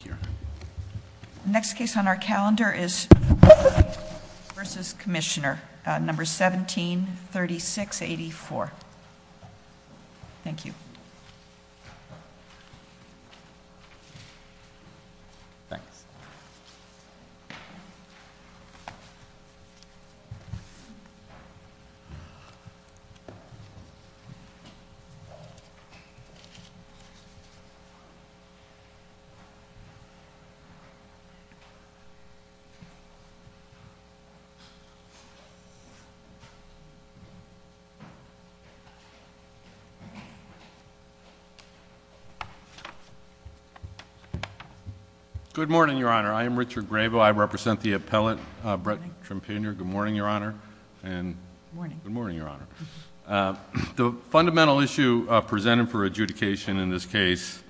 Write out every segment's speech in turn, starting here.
The next case on our calendar is versus Commissioner, number 173684. Thank you. Good morning, Your Honor. I am Richard Grabo. I represent the appellate Brett Trepanier. Good morning, Your Honor. Good morning. Good morning, Your Honor. The fundamental issue presented for adjudication in this case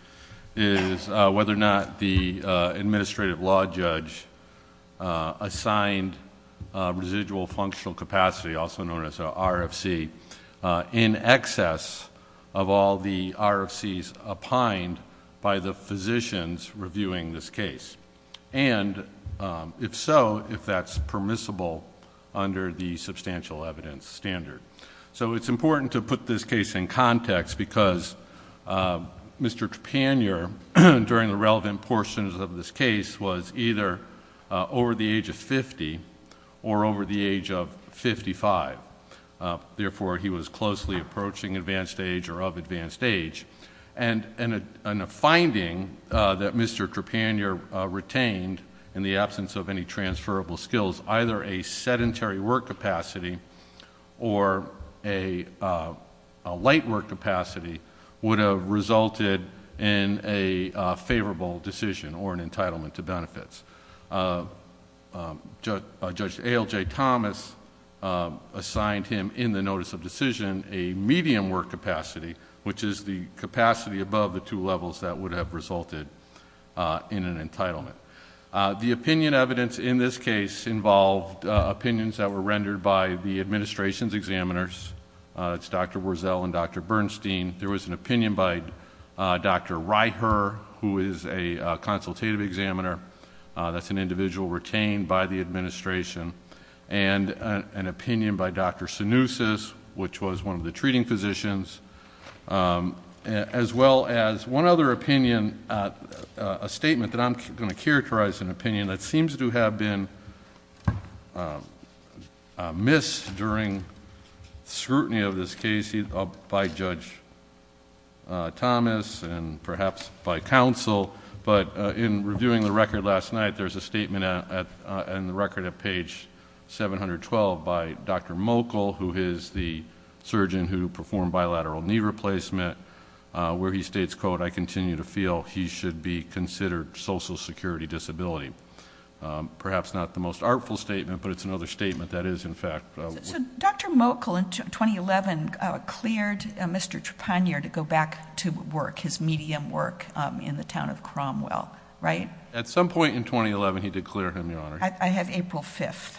is whether or not the administrative law judge assigned residual functional capacity, also known as a RFC, in excess of all the RFCs opined by the physicians reviewing this case, and if so, if that's permissible under the substantial evidence standard. So it's important to put this case in context because Mr. Trepanier, during the relevant portions of this case, was either over the age of fifty or over the age of fifty-five. Therefore he was closely approaching advanced age or of advanced age, and a finding that Mr. Trepanier retained in the absence of any transferable skills, either a sedentary work capacity or a light work capacity, would have resulted in a favorable decision or an entitlement to benefits. Judge A.L.J. Thomas assigned him, in the notice of decision, a medium work capacity, which is the capacity above the two levels that would have resulted in an entitlement. The opinion evidence in this case involved opinions that were rendered by the administration's examiners, that's Dr. Wurzel and Dr. Bernstein. There was an opinion by Dr. Reicher, who is a consultative examiner, that's an individual retained by the administration, and an opinion by Dr. Sinousis, which was one of the treating physicians, as well as one other opinion, a statement that I'm going to characterize an opinion that seems to have been missed during scrutiny of this case by Judge Thomas and perhaps by counsel. But in reviewing the record last night, there's a statement in the record at page 712 by Dr. Sinousis, a surgeon who performed bilateral knee replacement, where he states, quote, I continue to feel he should be considered social security disability. Perhaps not the most artful statement, but it's another statement that is, in fact- So Dr. Mochel, in 2011, cleared Mr. Trepanier to go back to work, his medium work, in the town of Cromwell, right? At some point in 2011, he did clear him, Your Honor. I have April 5th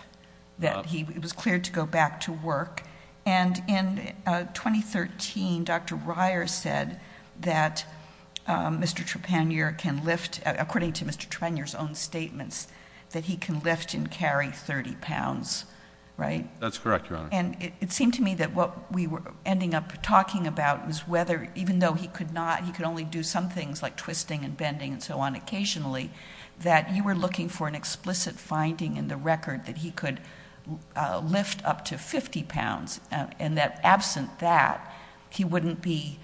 that he was cleared to go back to work. And in 2013, Dr. Reier said that Mr. Trepanier can lift, according to Mr. Trepanier's own statements, that he can lift and carry 30 pounds, right? That's correct, Your Honor. And it seemed to me that what we were ending up talking about was whether, even though he could not, he could only do some things like twisting and bending and so on occasionally, that you were looking for an explicit finding in the record that he could lift up to 50 pounds, and that absent that, he wouldn't be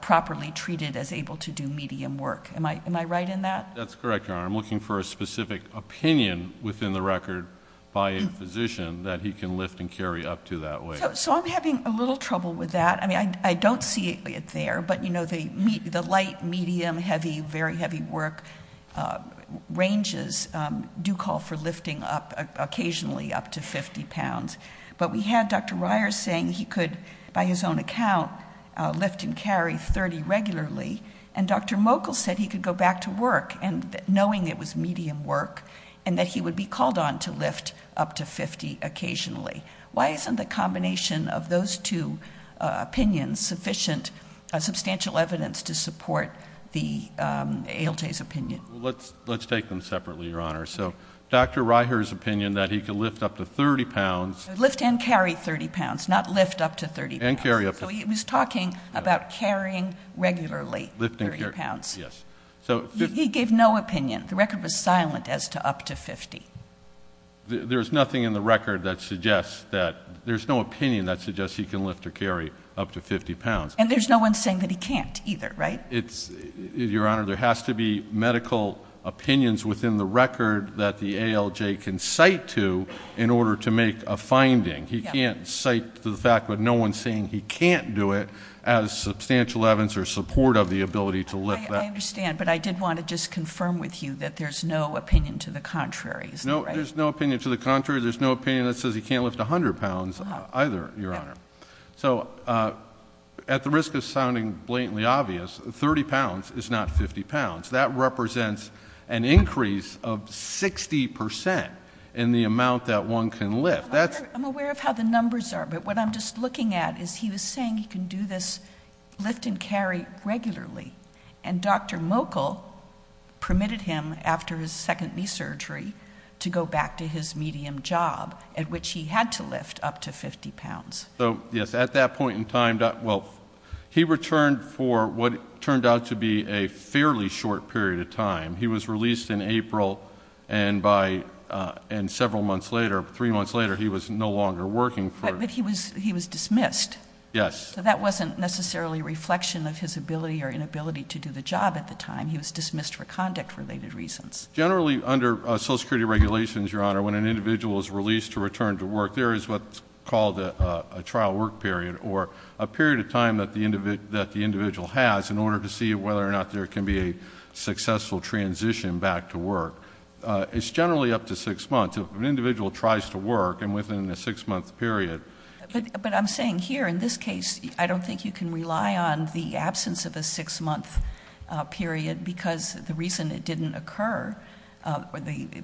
properly treated as able to do medium work. Am I right in that? That's correct, Your Honor. I'm looking for a specific opinion within the record by a physician that he can lift and carry up to that weight. So I'm having a little trouble with that. I don't see it there, but the light, medium, heavy, very heavy work ranges do call for lifting up occasionally up to 50 pounds. But we had Dr. Reiher saying he could, by his own account, lift and carry 30 regularly, and Dr. Mochel said he could go back to work, knowing it was medium work, and that he would be called on to lift up to 50 occasionally. Why isn't the combination of those two opinions sufficient, substantial evidence to support the ALJ's opinion? Let's take them separately, Your Honor. So Dr. Reiher's opinion that he could lift up to 30 pounds. Lift and carry 30 pounds, not lift up to 30 pounds. And carry up to 30 pounds. So he was talking about carrying regularly 30 pounds. Yes. He gave no opinion. The record was silent as to up to 50. There's nothing in the record that suggests that, there's no opinion that suggests he can lift or carry up to 50 pounds. And there's no one saying that he can't either, right? It's, Your Honor, there has to be medical opinions within the record that the ALJ can cite to in order to make a finding. He can't cite the fact that no one's saying he can't do it as substantial evidence or support of the ability to lift that. I understand, but I did want to just confirm with you that there's no opinion to the contrary, is there, right? No, there's no opinion to the contrary. There's no opinion that says he can't lift 100 pounds either, Your Honor. So at the risk of sounding blatantly obvious, 30 pounds is not 50 pounds. That represents an increase of 60% in the amount that one can lift. I'm aware of how the numbers are, but what I'm just looking at is he was saying he can do this lift and carry regularly. And Dr. Mochel permitted him, after his second knee surgery, to go back to his medium job at which he had to lift up to 50 pounds. So, yes, at that point in time, well, he returned for what turned out to be a fairly short period of time. He was released in April, and several months later, three months later, he was no longer working for- But he was dismissed. Yes. So that wasn't necessarily a reflection of his ability or inability to do the job at the time. He was dismissed for conduct-related reasons. Generally under Social Security regulations, Your Honor, when an individual is released to return to work, there is what's called a trial work period, or a period of time that the individual has in order to see whether or not there can be a successful transition back to work. It's generally up to six months. If an individual tries to work, and within a six-month period- But I'm saying here, in this case, I don't think you can rely on the absence of a six-month period because the reason it didn't occur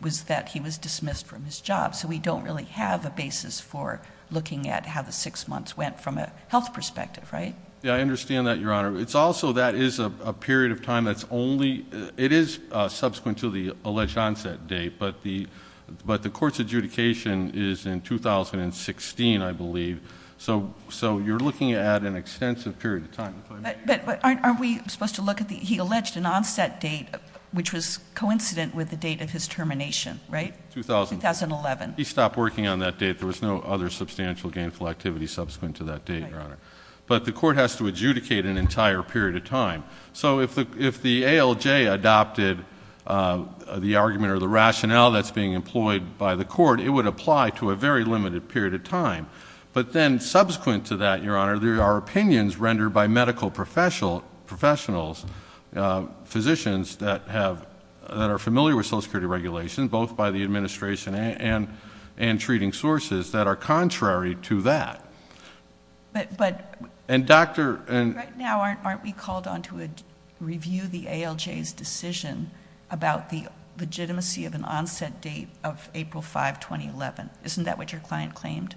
was that he was dismissed from his job. So we don't really have a basis for looking at how the six months went from a health perspective, right? Yeah, I understand that, Your Honor. It's also, that is a period of time that's only, it is subsequent to the alleged onset date, but the court's adjudication is in 2016, I believe. So you're looking at an extensive period of time. But aren't we supposed to look at the, he alleged an onset date, which was coincident with the date of his termination, right? 2011. He stopped working on that date. There was no other substantial gainful activity subsequent to that date, Your Honor. But the court has to adjudicate an entire period of time. So if the ALJ adopted the argument or the rationale that's being employed by the court, it would apply to a very limited period of time. But then, subsequent to that, Your Honor, there are opinions rendered by medical professionals, physicians that have, that are familiar with Social Security regulations, both by the administration and treating sources, that are contrary to that. And Dr.... Right now, aren't we called on to review the ALJ's decision about the legitimacy of an onset date of April 5, 2011? Isn't that what your client claimed?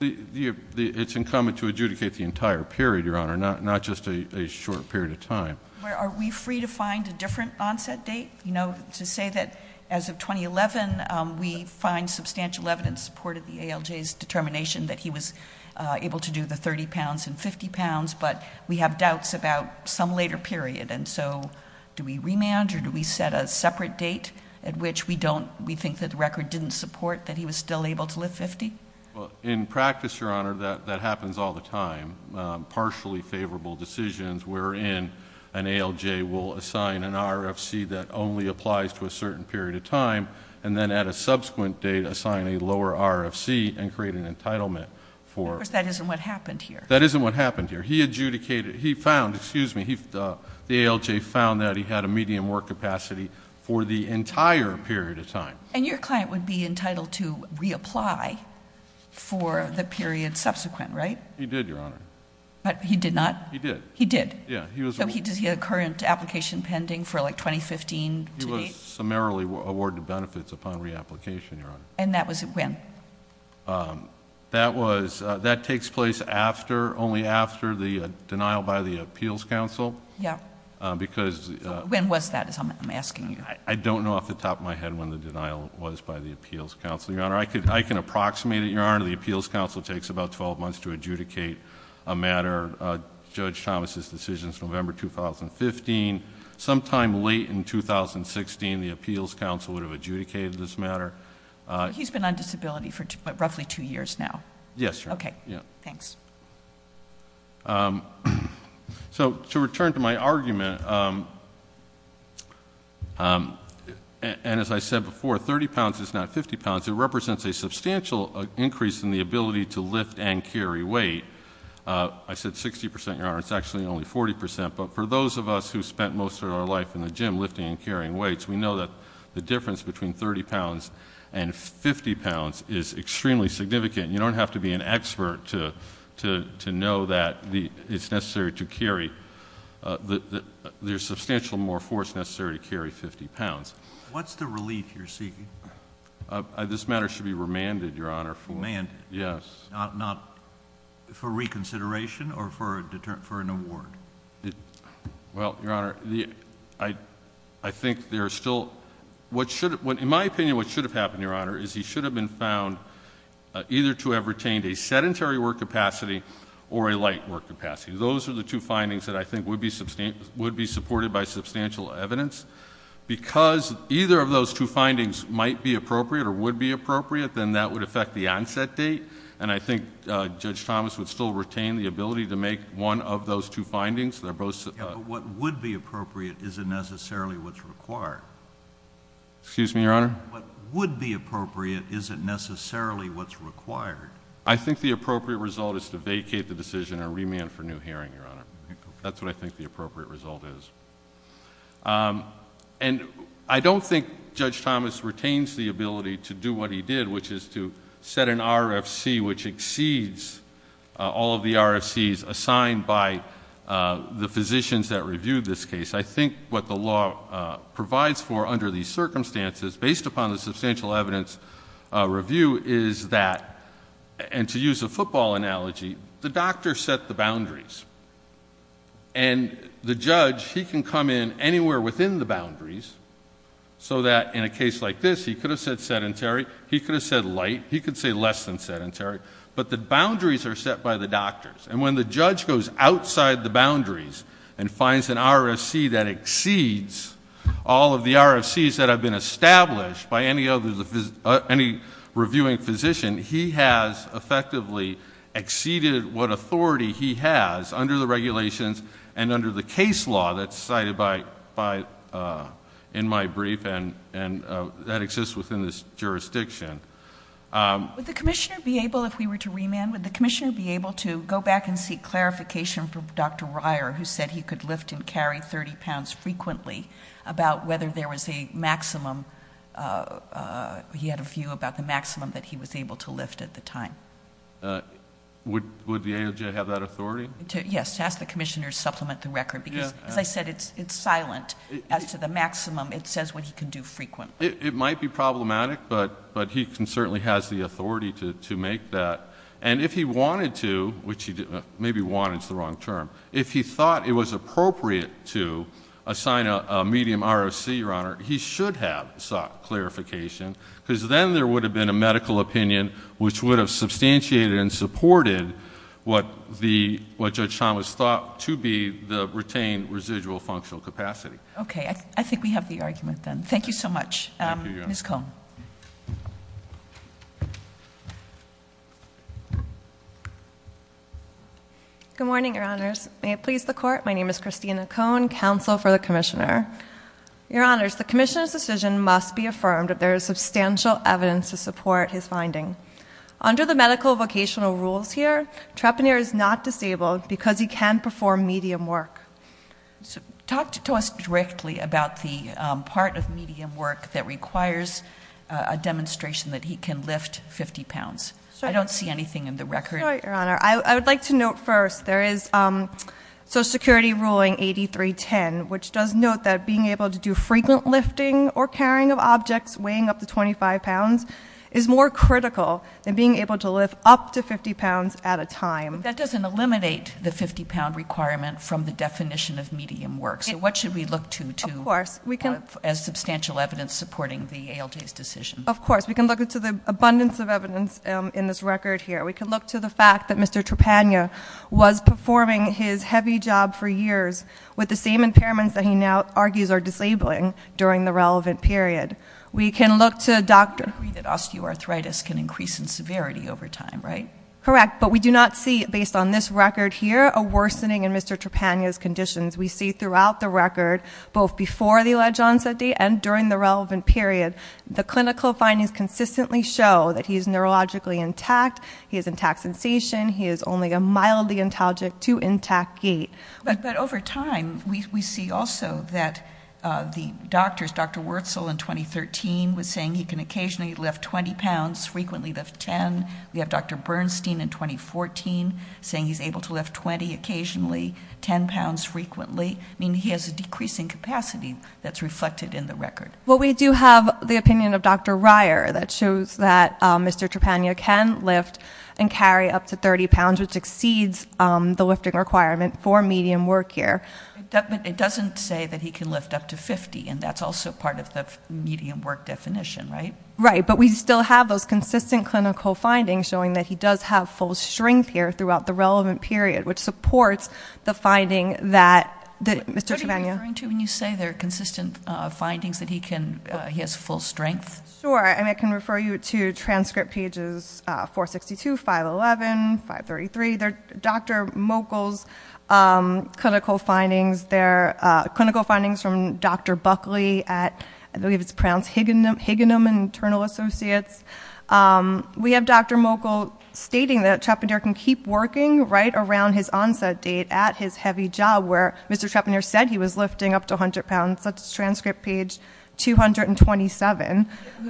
It's incumbent to adjudicate the entire period, Your Honor, not just a short period of time. Are we free to find a different onset date? You know, to say that, as of 2011, we find substantial evidence in support of the ALJ's determination that he was able to do the 30 pounds and 50 pounds, but we have doubts about some later period. And so, do we remand or do we set a separate date at which we don't, we think that the record didn't support that he was still able to lift 50? In practice, Your Honor, that happens all the time. There are some partially favorable decisions wherein an ALJ will assign an RFC that only applies to a certain period of time and then, at a subsequent date, assign a lower RFC and create an entitlement for... Of course, that isn't what happened here. That isn't what happened here. He adjudicated, he found, excuse me, the ALJ found that he had a medium work capacity for the entire period of time. And your client would be entitled to reapply for the period subsequent, right? He did, Your Honor. But he did not? He did. He did? Yeah, he was... So, does he have a current application pending for, like, 2015 to date? He was summarily awarded benefits upon reapplication, Your Honor. And that was when? That was, that takes place after, only after the denial by the Appeals Council. Yeah. Because... So, when was that, I'm asking you? I don't know off the top of my head when the denial was by the Appeals Council, Your Honor. I can approximate it, Your Honor. The Appeals Council takes about 12 months to adjudicate a matter. Judge Thomas's decision is November 2015. Sometime late in 2016, the Appeals Council would have adjudicated this matter. He's been on disability for roughly two years now? Yes, Your Honor. Okay. Yeah. Thanks. So, to return to my argument, and as I said before, 30 pounds is not 50 pounds. It represents a substantial increase in the ability to lift and carry weight. I said 60 percent, Your Honor. It's actually only 40 percent. But for those of us who spent most of our life in the gym lifting and carrying weights, we know that the difference between 30 pounds and 50 pounds is extremely significant. You don't have to be an expert to know that it's necessary to carry, there's substantial more force necessary to carry 50 pounds. What's the relief you're seeking? This matter should be remanded, Your Honor. Remanded? Yes. Not for reconsideration or for an award? Well, Your Honor, I think there's still – in my opinion, what should have happened, Your Honor, is he should have been found either to have retained a sedentary work capacity or a light work capacity. Those are the two findings that I think would be supported by substantial evidence because either of those two findings might be appropriate or would be appropriate, then that would affect the onset date, and I think Judge Thomas would still retain the ability to make one of those two findings. They're both – Yeah, but what would be appropriate isn't necessarily what's required. Excuse me, Your Honor? What would be appropriate isn't necessarily what's required. I think the appropriate result is to vacate the decision and remand for new hearing, Your Honor. That's what I think the appropriate result is. And I don't think Judge Thomas retains the ability to do what he did, which is to set an RFC which exceeds all of the RFCs assigned by the physicians that reviewed this case. I think what the law provides for under these circumstances, based upon the substantial evidence review, is that – and to use a football analogy, the doctor set the boundaries, and the judge, he can come in anywhere within the boundaries so that in a case like this, he could have said sedentary, he could have said light, he could say less than sedentary, but the boundaries are set by the doctors. And when the judge goes outside the boundaries and finds an RFC that exceeds all of the RFCs that have been established by any reviewing physician, he has effectively exceeded what under the regulations and under the case law that's cited in my brief, and that exists within this jurisdiction. Would the commissioner be able, if we were to remand, would the commissioner be able to go back and seek clarification from Dr. Reier, who said he could lift and carry 30 pounds frequently, about whether there was a maximum, he had a view about the maximum that he was able to lift at the time? Would the AOJ have that authority? Yes, to ask the commissioner to supplement the record, because as I said, it's silent as to the maximum. It says what he can do frequently. It might be problematic, but he certainly has the authority to make that. And if he wanted to, which he didn't – maybe wanted is the wrong term. If he thought it was appropriate to assign a medium RFC, Your Honor, he should have sought clarification because then there would have been a medical opinion which would have substantiated and supported what the – what Judge Thomas thought to be the retained residual functional capacity. Okay. I think we have the argument then. Thank you, Your Honor. Ms. Cohn. Good morning, Your Honors. May it please the Court, my name is Christina Cohn, counsel for the commissioner. Your Honors, the commissioner's decision must be affirmed if there is substantial evidence to support his finding. Under the medical vocational rules here, Trepanier is not disabled because he can perform medium work. So, talk to us directly about the part of medium work that requires a demonstration that he can lift 50 pounds. Sorry. I don't see anything in the record. Sorry, Your Honor. I would like to note first there is Social Security ruling 8310, which does note that being able to do frequent lifting or carrying of objects weighing up to 25 pounds is more critical than being able to lift up to 50 pounds at a time. But that doesn't eliminate the 50-pound requirement from the definition of medium work. So, what should we look to as substantial evidence supporting the ALJ's decision? Of course. We can look to the abundance of evidence in this record here. We can look to the fact that Mr. Trepanier was performing his heavy job for years with the same impairments that he now argues are disabling during the relevant period. We can look to Dr. I agree that osteoarthritis can increase in severity over time, right? Correct. But we do not see, based on this record here, a worsening in Mr. Trepanier's conditions. We see throughout the record, both before the alleged onset date and during the relevant period, the clinical findings consistently show that he is neurologically intact, he has intact sensation, he is only a mildly intagic to intact gait. But over time, we see also that the doctors, Dr. Wurzel in 2013 was saying he can occasionally lift 20 pounds, frequently lift 10. We have Dr. Bernstein in 2014 saying he's able to lift 20 occasionally, 10 pounds frequently. I mean, he has a decreasing capacity that's reflected in the record. Well, we do have the opinion of Dr. Reier that shows that Mr. Trepanier can lift and medium work here. It doesn't say that he can lift up to 50, and that's also part of the medium work definition, right? Right. But we still have those consistent clinical findings showing that he does have full strength here throughout the relevant period, which supports the finding that Mr. Trepanier- What are you referring to when you say there are consistent findings that he can, he has full strength? Sure. I mean, I can refer you to transcript pages 462, 511, 533. They're Dr. Mochel's clinical findings. They're clinical findings from Dr. Buckley at, I believe it's Prowse Higginom and Internal Associates. We have Dr. Mochel stating that Trepanier can keep working right around his onset date at his heavy job where Mr. Trepanier said he was lifting up to 100 pounds. That's transcript page 227.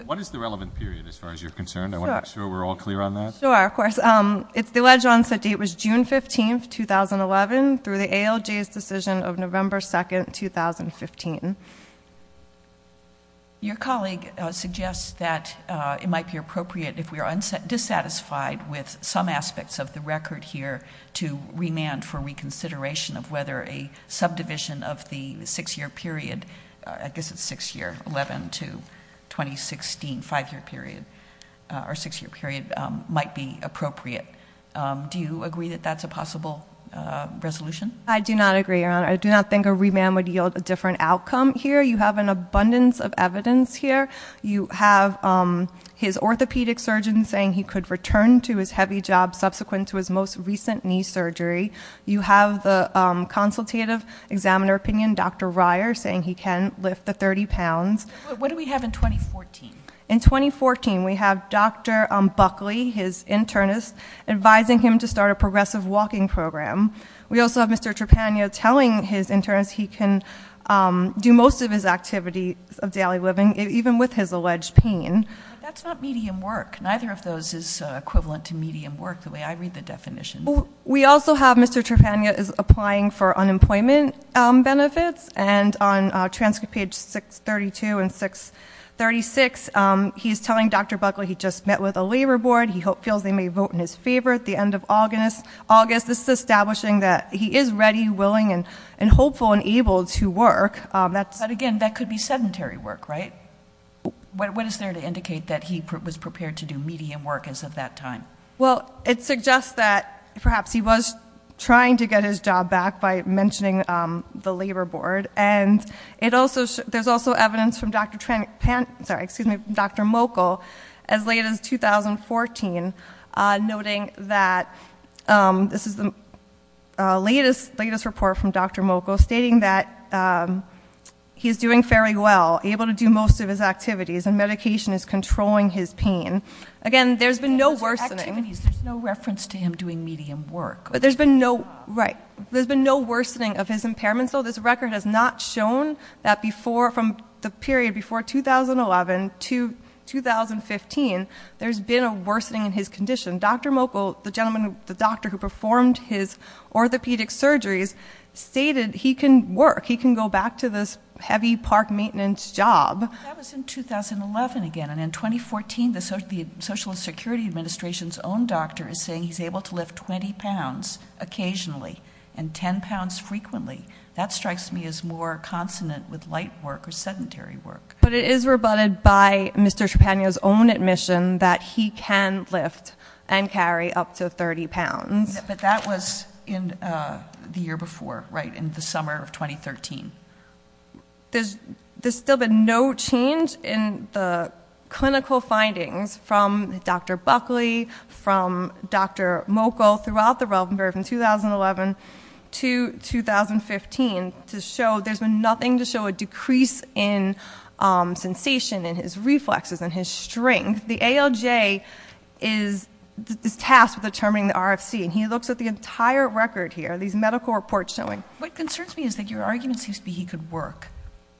What is the relevant period as far as you're concerned? I want to make sure we're all clear on that. Sure. Sure. Of course. It's the wedge onset date was June 15th, 2011 through the ALJ's decision of November 2nd, 2015. Your colleague suggests that it might be appropriate if we are dissatisfied with some aspects of the record here to remand for reconsideration of whether a subdivision of the six-year period, I guess it's six-year, 11 to 2016, five-year period or six-year period might be appropriate. Do you agree that that's a possible resolution? I do not agree, Your Honor. I do not think a remand would yield a different outcome here. You have an abundance of evidence here. You have his orthopedic surgeon saying he could return to his heavy job subsequent to his most recent knee surgery. You have the consultative examiner opinion, Dr. Ryer, saying he can lift the 30 pounds. What do we have in 2014? In 2014, we have Dr. Buckley, his internist, advising him to start a progressive walking program. We also have Mr. Trepano telling his internist he can do most of his activities of daily living even with his alleged pain. That's not medium work. Neither of those is equivalent to medium work the way I read the definition. We also have Mr. Trepano is applying for unemployment benefits. And on transcript page 632 and 636, he's telling Dr. Buckley he just met with a labor board. He feels they may vote in his favor at the end of August. This is establishing that he is ready, willing, and hopeful and able to work. But again, that could be sedentary work, right? What is there to indicate that he was prepared to do medium work as of that time? Well, it suggests that perhaps he was trying to get his job back by mentioning the labor board. And there's also evidence from Dr. Mokal as late as 2014 noting that this is the latest report from Dr. Mokal stating that he's doing fairly well, able to do most of his activities, and medication is controlling his pain. Again, there's been no worsening. There's no reference to him doing medium work. But there's been no, right, there's been no worsening of his impairments. So this record has not shown that from the period before 2011 to 2015, there's been a worsening in his condition. Dr. Mokal, the doctor who performed his orthopedic surgeries, stated he can work, he can go back to this heavy park maintenance job. That was in 2011 again, and in 2014, the Social Security Administration's own doctor is saying he's able to lift 20 pounds occasionally. And 10 pounds frequently. That strikes me as more consonant with light work or sedentary work. But it is rebutted by Mr. Trepano's own admission that he can lift and carry up to 30 pounds. But that was in the year before, right, in the summer of 2013. There's still been no change in the clinical findings from Dr. Buckley, from Dr. Mokal throughout the relevant period from 2011 to 2015. To show, there's been nothing to show a decrease in sensation in his reflexes and his strength. The ALJ is tasked with determining the RFC, and he looks at the entire record here, these medical reports showing. What concerns me is that your argument seems to be he could work.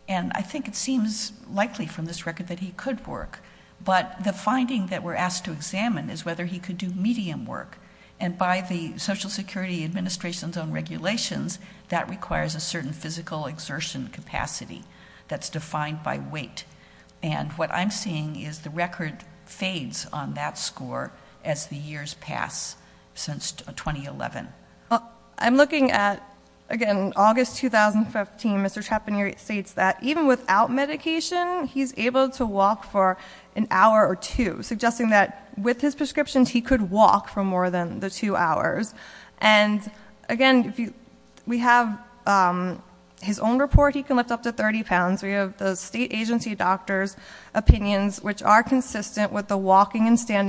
And I think it seems likely from this record that he could work. But the finding that we're asked to examine is whether he could do medium work. And by the Social Security Administration's own regulations, that requires a certain physical exertion capacity that's defined by weight. And what I'm seeing is the record fades on that score as the years pass since 2011. I'm looking at, again, August 2015, Mr. Trepano states that even without medication, he's able to walk for an hour or two, suggesting that with his prescriptions, he could walk for more than the two hours. And again, we have his own report, he can lift up to 30 pounds. We have the state agency doctor's opinions, which are consistent with the walking and exertion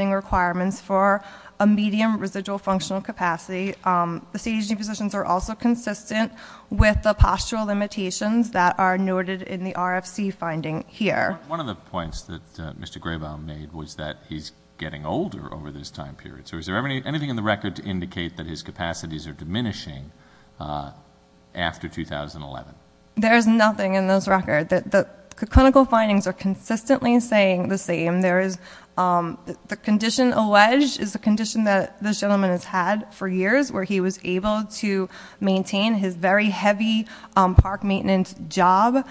capacity, the state agency physicians are also consistent with the postural limitations that are noted in the RFC finding here. One of the points that Mr. Graybaum made was that he's getting older over this time period. So is there anything in the record to indicate that his capacities are diminishing after 2011? There's nothing in this record. The clinical findings are consistently saying the same. The condition alleged is a condition that this gentleman has had for years where he was able to maintain his very heavy park maintenance job.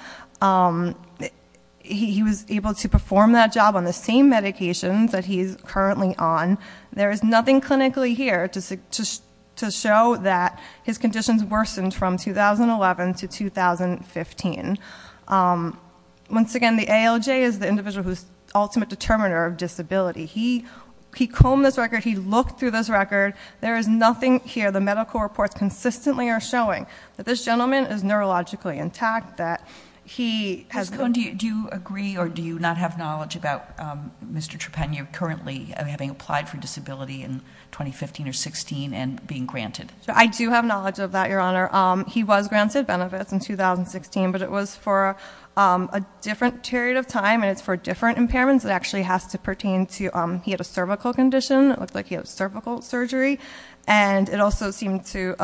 He was able to perform that job on the same medications that he's currently on. There is nothing clinically here to show that his conditions worsened from 2011 to 2015. Once again, the ALJ is the individual who's ultimate determiner of disability. He combed this record, he looked through this record, there is nothing here. The medical reports consistently are showing that this gentleman is neurologically intact, that he has- Ms. Cohn, do you agree or do you not have knowledge about Mr. Trepennier currently having applied for disability in 2015 or 16 and being granted? I do have knowledge of that, Your Honor. He was granted benefits in 2016, but it was for a different period of time, and it's for different impairments. It actually has to pertain to, he had a cervical condition, it looked like he had cervical surgery. And it also seemed to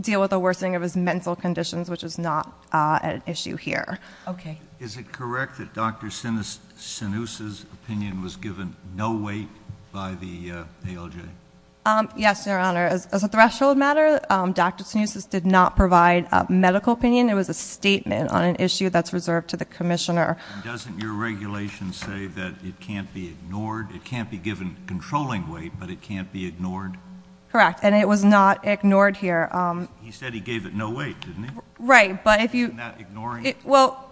deal with a worsening of his mental conditions, which is not an issue here. Okay. Is it correct that Dr. Sinousa's opinion was given no weight by the ALJ? Yes, Your Honor. As a threshold matter, Dr. Sinousa's did not provide a medical opinion. It was a statement on an issue that's reserved to the commissioner. Doesn't your regulation say that it can't be ignored? It can't be given controlling weight, but it can't be ignored? Correct, and it was not ignored here. He said he gave it no weight, didn't he? Right, but if you- Not ignoring it? Well,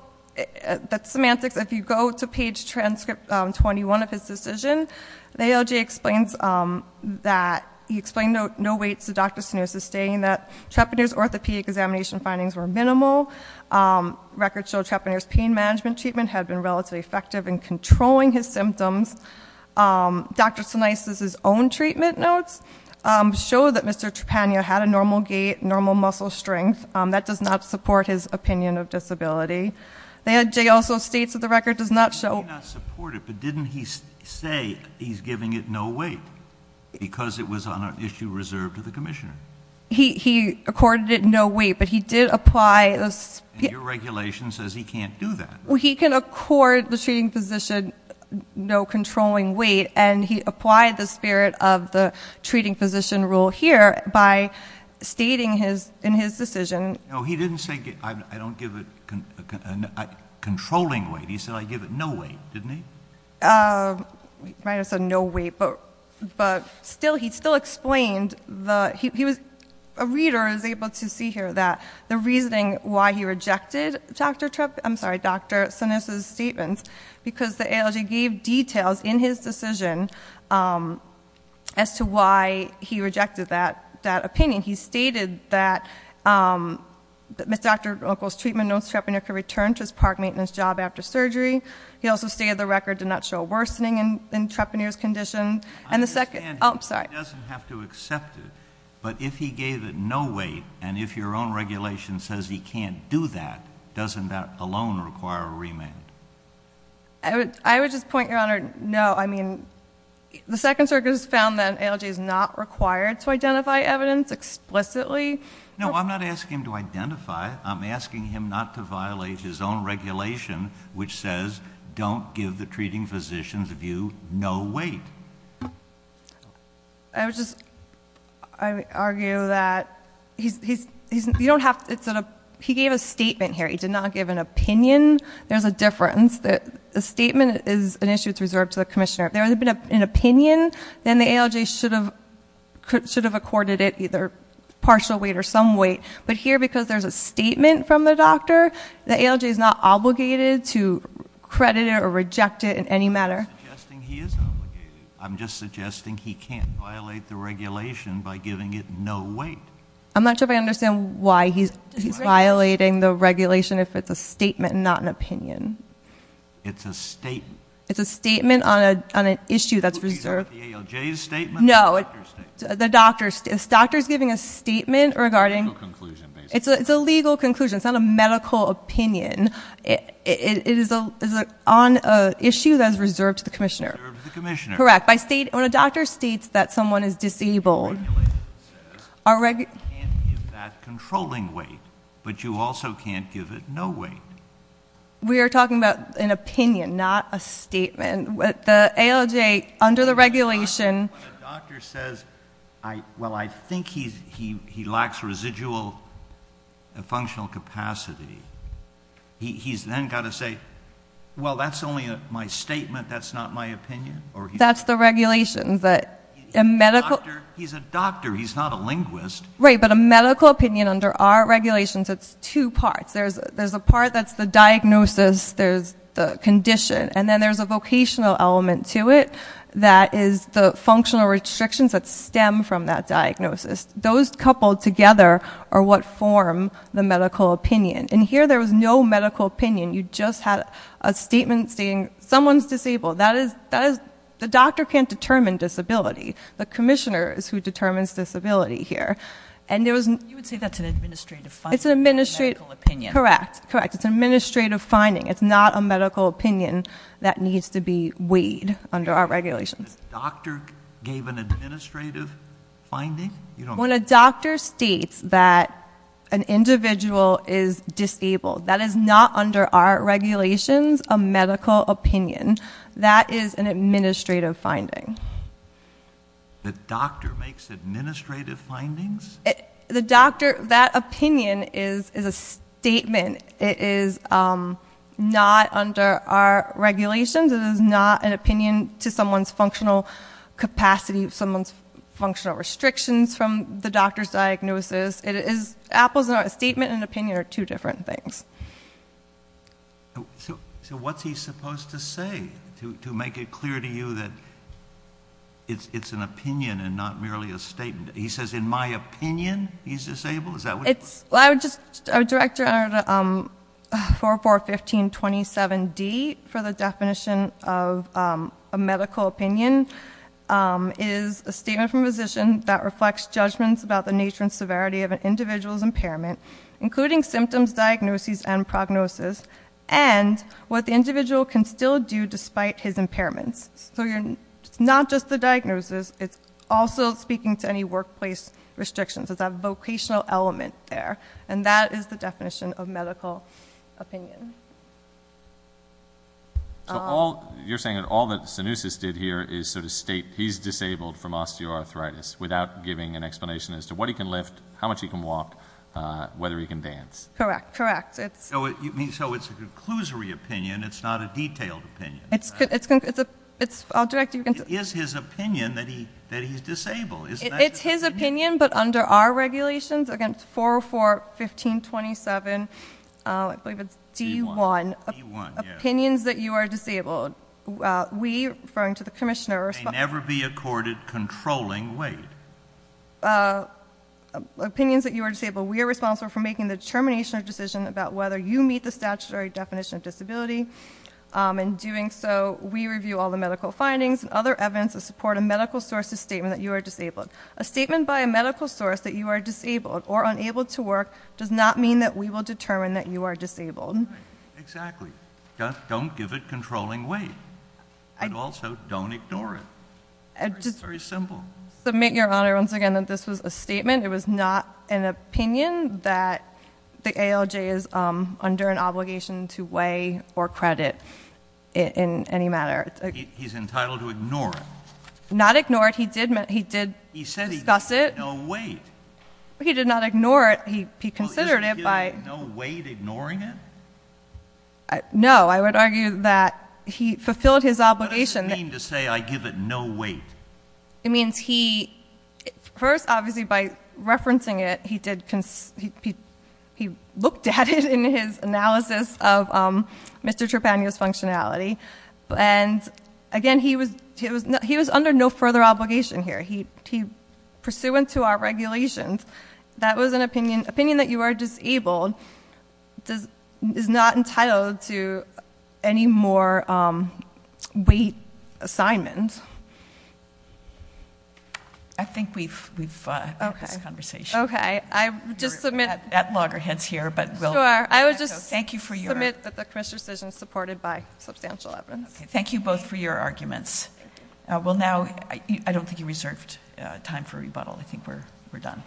that's semantics. If you go to page transcript 21 of his decision, the ALJ explains that, he explained no weights to Dr. Sinousa, stating that Trepanier's orthopedic examination findings were minimal. Records show Trepanier's pain management treatment had been relatively effective in controlling his symptoms. Dr. Sinousa's own treatment notes show that Mr. Trepanier had a normal gait, normal muscle strength, that does not support his opinion of disability. The ALJ also states that the record does not show- He's giving it no weight, because it was on an issue reserved to the commissioner. He accorded it no weight, but he did apply this- And your regulation says he can't do that. Well, he can accord the treating physician no controlling weight, and he applied the spirit of the treating physician rule here by stating in his decision- No, he didn't say I don't give it controlling weight. He said I give it no weight, didn't he? He never said no weight, but he still explained the- A reader is able to see here that the reasoning why he rejected Dr. Sinousa's statements, because the ALJ gave details in his decision as to why he rejected that opinion. He stated that Dr. Ockel's treatment notes, Trepanier could return to his park maintenance job after surgery. He also stated the record did not show a worsening in Trepanier's condition. And the second- I understand he doesn't have to accept it, but if he gave it no weight, and if your own regulation says he can't do that, doesn't that alone require a remand? I would just point your honor, no. I mean, the Second Circuit has found that ALJ is not required to identify evidence explicitly. No, I'm not asking him to identify. I'm asking him not to violate his own regulation, which says, don't give the treating physician's view no weight. I would just argue that he gave a statement here. He did not give an opinion. There's a difference. The statement is an issue that's reserved to the commissioner. If there had been an opinion, then the ALJ should have accorded it either partial weight or some weight. But here, because there's a statement from the doctor, the ALJ is not obligated to credit it or reject it in any manner. I'm just suggesting he is obligated. I'm just suggesting he can't violate the regulation by giving it no weight. I'm not sure if I understand why he's violating the regulation if it's a statement and not an opinion. It's a statement. It's a statement on an issue that's reserved. The ALJ's statement? No. The doctor's statement. The doctor's giving a statement regarding- It's a legal conclusion, basically. It's a legal conclusion. It's not a medical opinion. It is on an issue that is reserved to the commissioner. Reserved to the commissioner. Correct. When a doctor states that someone is disabled- The regulation says you can't give that controlling weight, but you also can't give it no weight. We are talking about an opinion, not a statement. The ALJ, under the regulation- When a doctor says, well, I think he lacks residual functional capacity, he's then got to say, well, that's only my statement, that's not my opinion? That's the regulation, that a medical- He's a doctor, he's not a linguist. Right, but a medical opinion under our regulations, it's two parts. There's a part that's the diagnosis, there's the condition. And then there's a vocational element to it that is the functional restrictions that stem from that diagnosis. Those coupled together are what form the medical opinion. And here, there was no medical opinion. You just had a statement saying, someone's disabled. That is, the doctor can't determine disability. The commissioner is who determines disability here. And there was- You would say that's an administrative finding, not a medical opinion. Correct, correct. It's an administrative finding. It's not a medical opinion that needs to be weighed under our regulations. The doctor gave an administrative finding? When a doctor states that an individual is disabled, that is not under our regulations a medical opinion. That is an administrative finding. The doctor makes administrative findings? The doctor, that opinion is a statement. It is not under our regulations. It is not an opinion to someone's functional capacity, someone's functional restrictions from the doctor's diagnosis. It is, apples are a statement and opinion are two different things. So what's he supposed to say to make it clear to you that it's an opinion and not merely a statement? He says, in my opinion, he's disabled? Is that what- Well, I would just, our director, 441527D, for the definition of a medical opinion, is a statement from a physician that reflects judgments about the nature and severity of an individual's impairment, including symptoms, diagnoses, and prognosis. And what the individual can still do despite his impairments. So it's not just the diagnosis, it's also speaking to any workplace restrictions. It's a vocational element there. And that is the definition of medical opinion. So all, you're saying that all that Stenousis did here is sort of state he's disabled from osteoarthritis without giving an explanation as to what he can lift, how much he can walk, whether he can dance. Correct, correct. It's- So it's a conclusory opinion, it's not a detailed opinion. It's, I'll direct you- It is his opinion that he's disabled. It's his opinion, but under our regulations against 4041527, I believe it's D1. D1, yeah. Opinions that you are disabled. We, referring to the commissioner- May never be accorded controlling weight. Opinions that you are disabled, we are responsible for making the determination or decision about whether you meet the statutory definition of disability. In doing so, we review all the medical findings and other evidence to support a medical source's statement that you are disabled. A statement by a medical source that you are disabled or unable to work does not mean that we will determine that you are disabled. Exactly. Don't give it controlling weight. And also, don't ignore it. It's very simple. It was not an opinion that the ALJ is under an obligation to weigh or credit in any matter. He's entitled to ignore it. Not ignore it, he did discuss it. He said he gave it no weight. He did not ignore it, he considered it by- Well, isn't giving it no weight ignoring it? No, I would argue that he fulfilled his obligation- What does it mean to say I give it no weight? It means he, first obviously by referencing it, he looked at it in his analysis of Mr. Trepanio's functionality. And again, he was under no further obligation here. He, pursuant to our regulations, that was an opinion. Opinion that you are disabled is not entitled to any more weight assignments. I think we've had this conversation. Okay, I just submit- That loggerhead's here, but we'll- Sure, I would just- Thank you for your- Submit that the commission's decision is supported by substantial evidence. Thank you both for your arguments. Well now, I don't think you reserved time for rebuttal. I think we're done.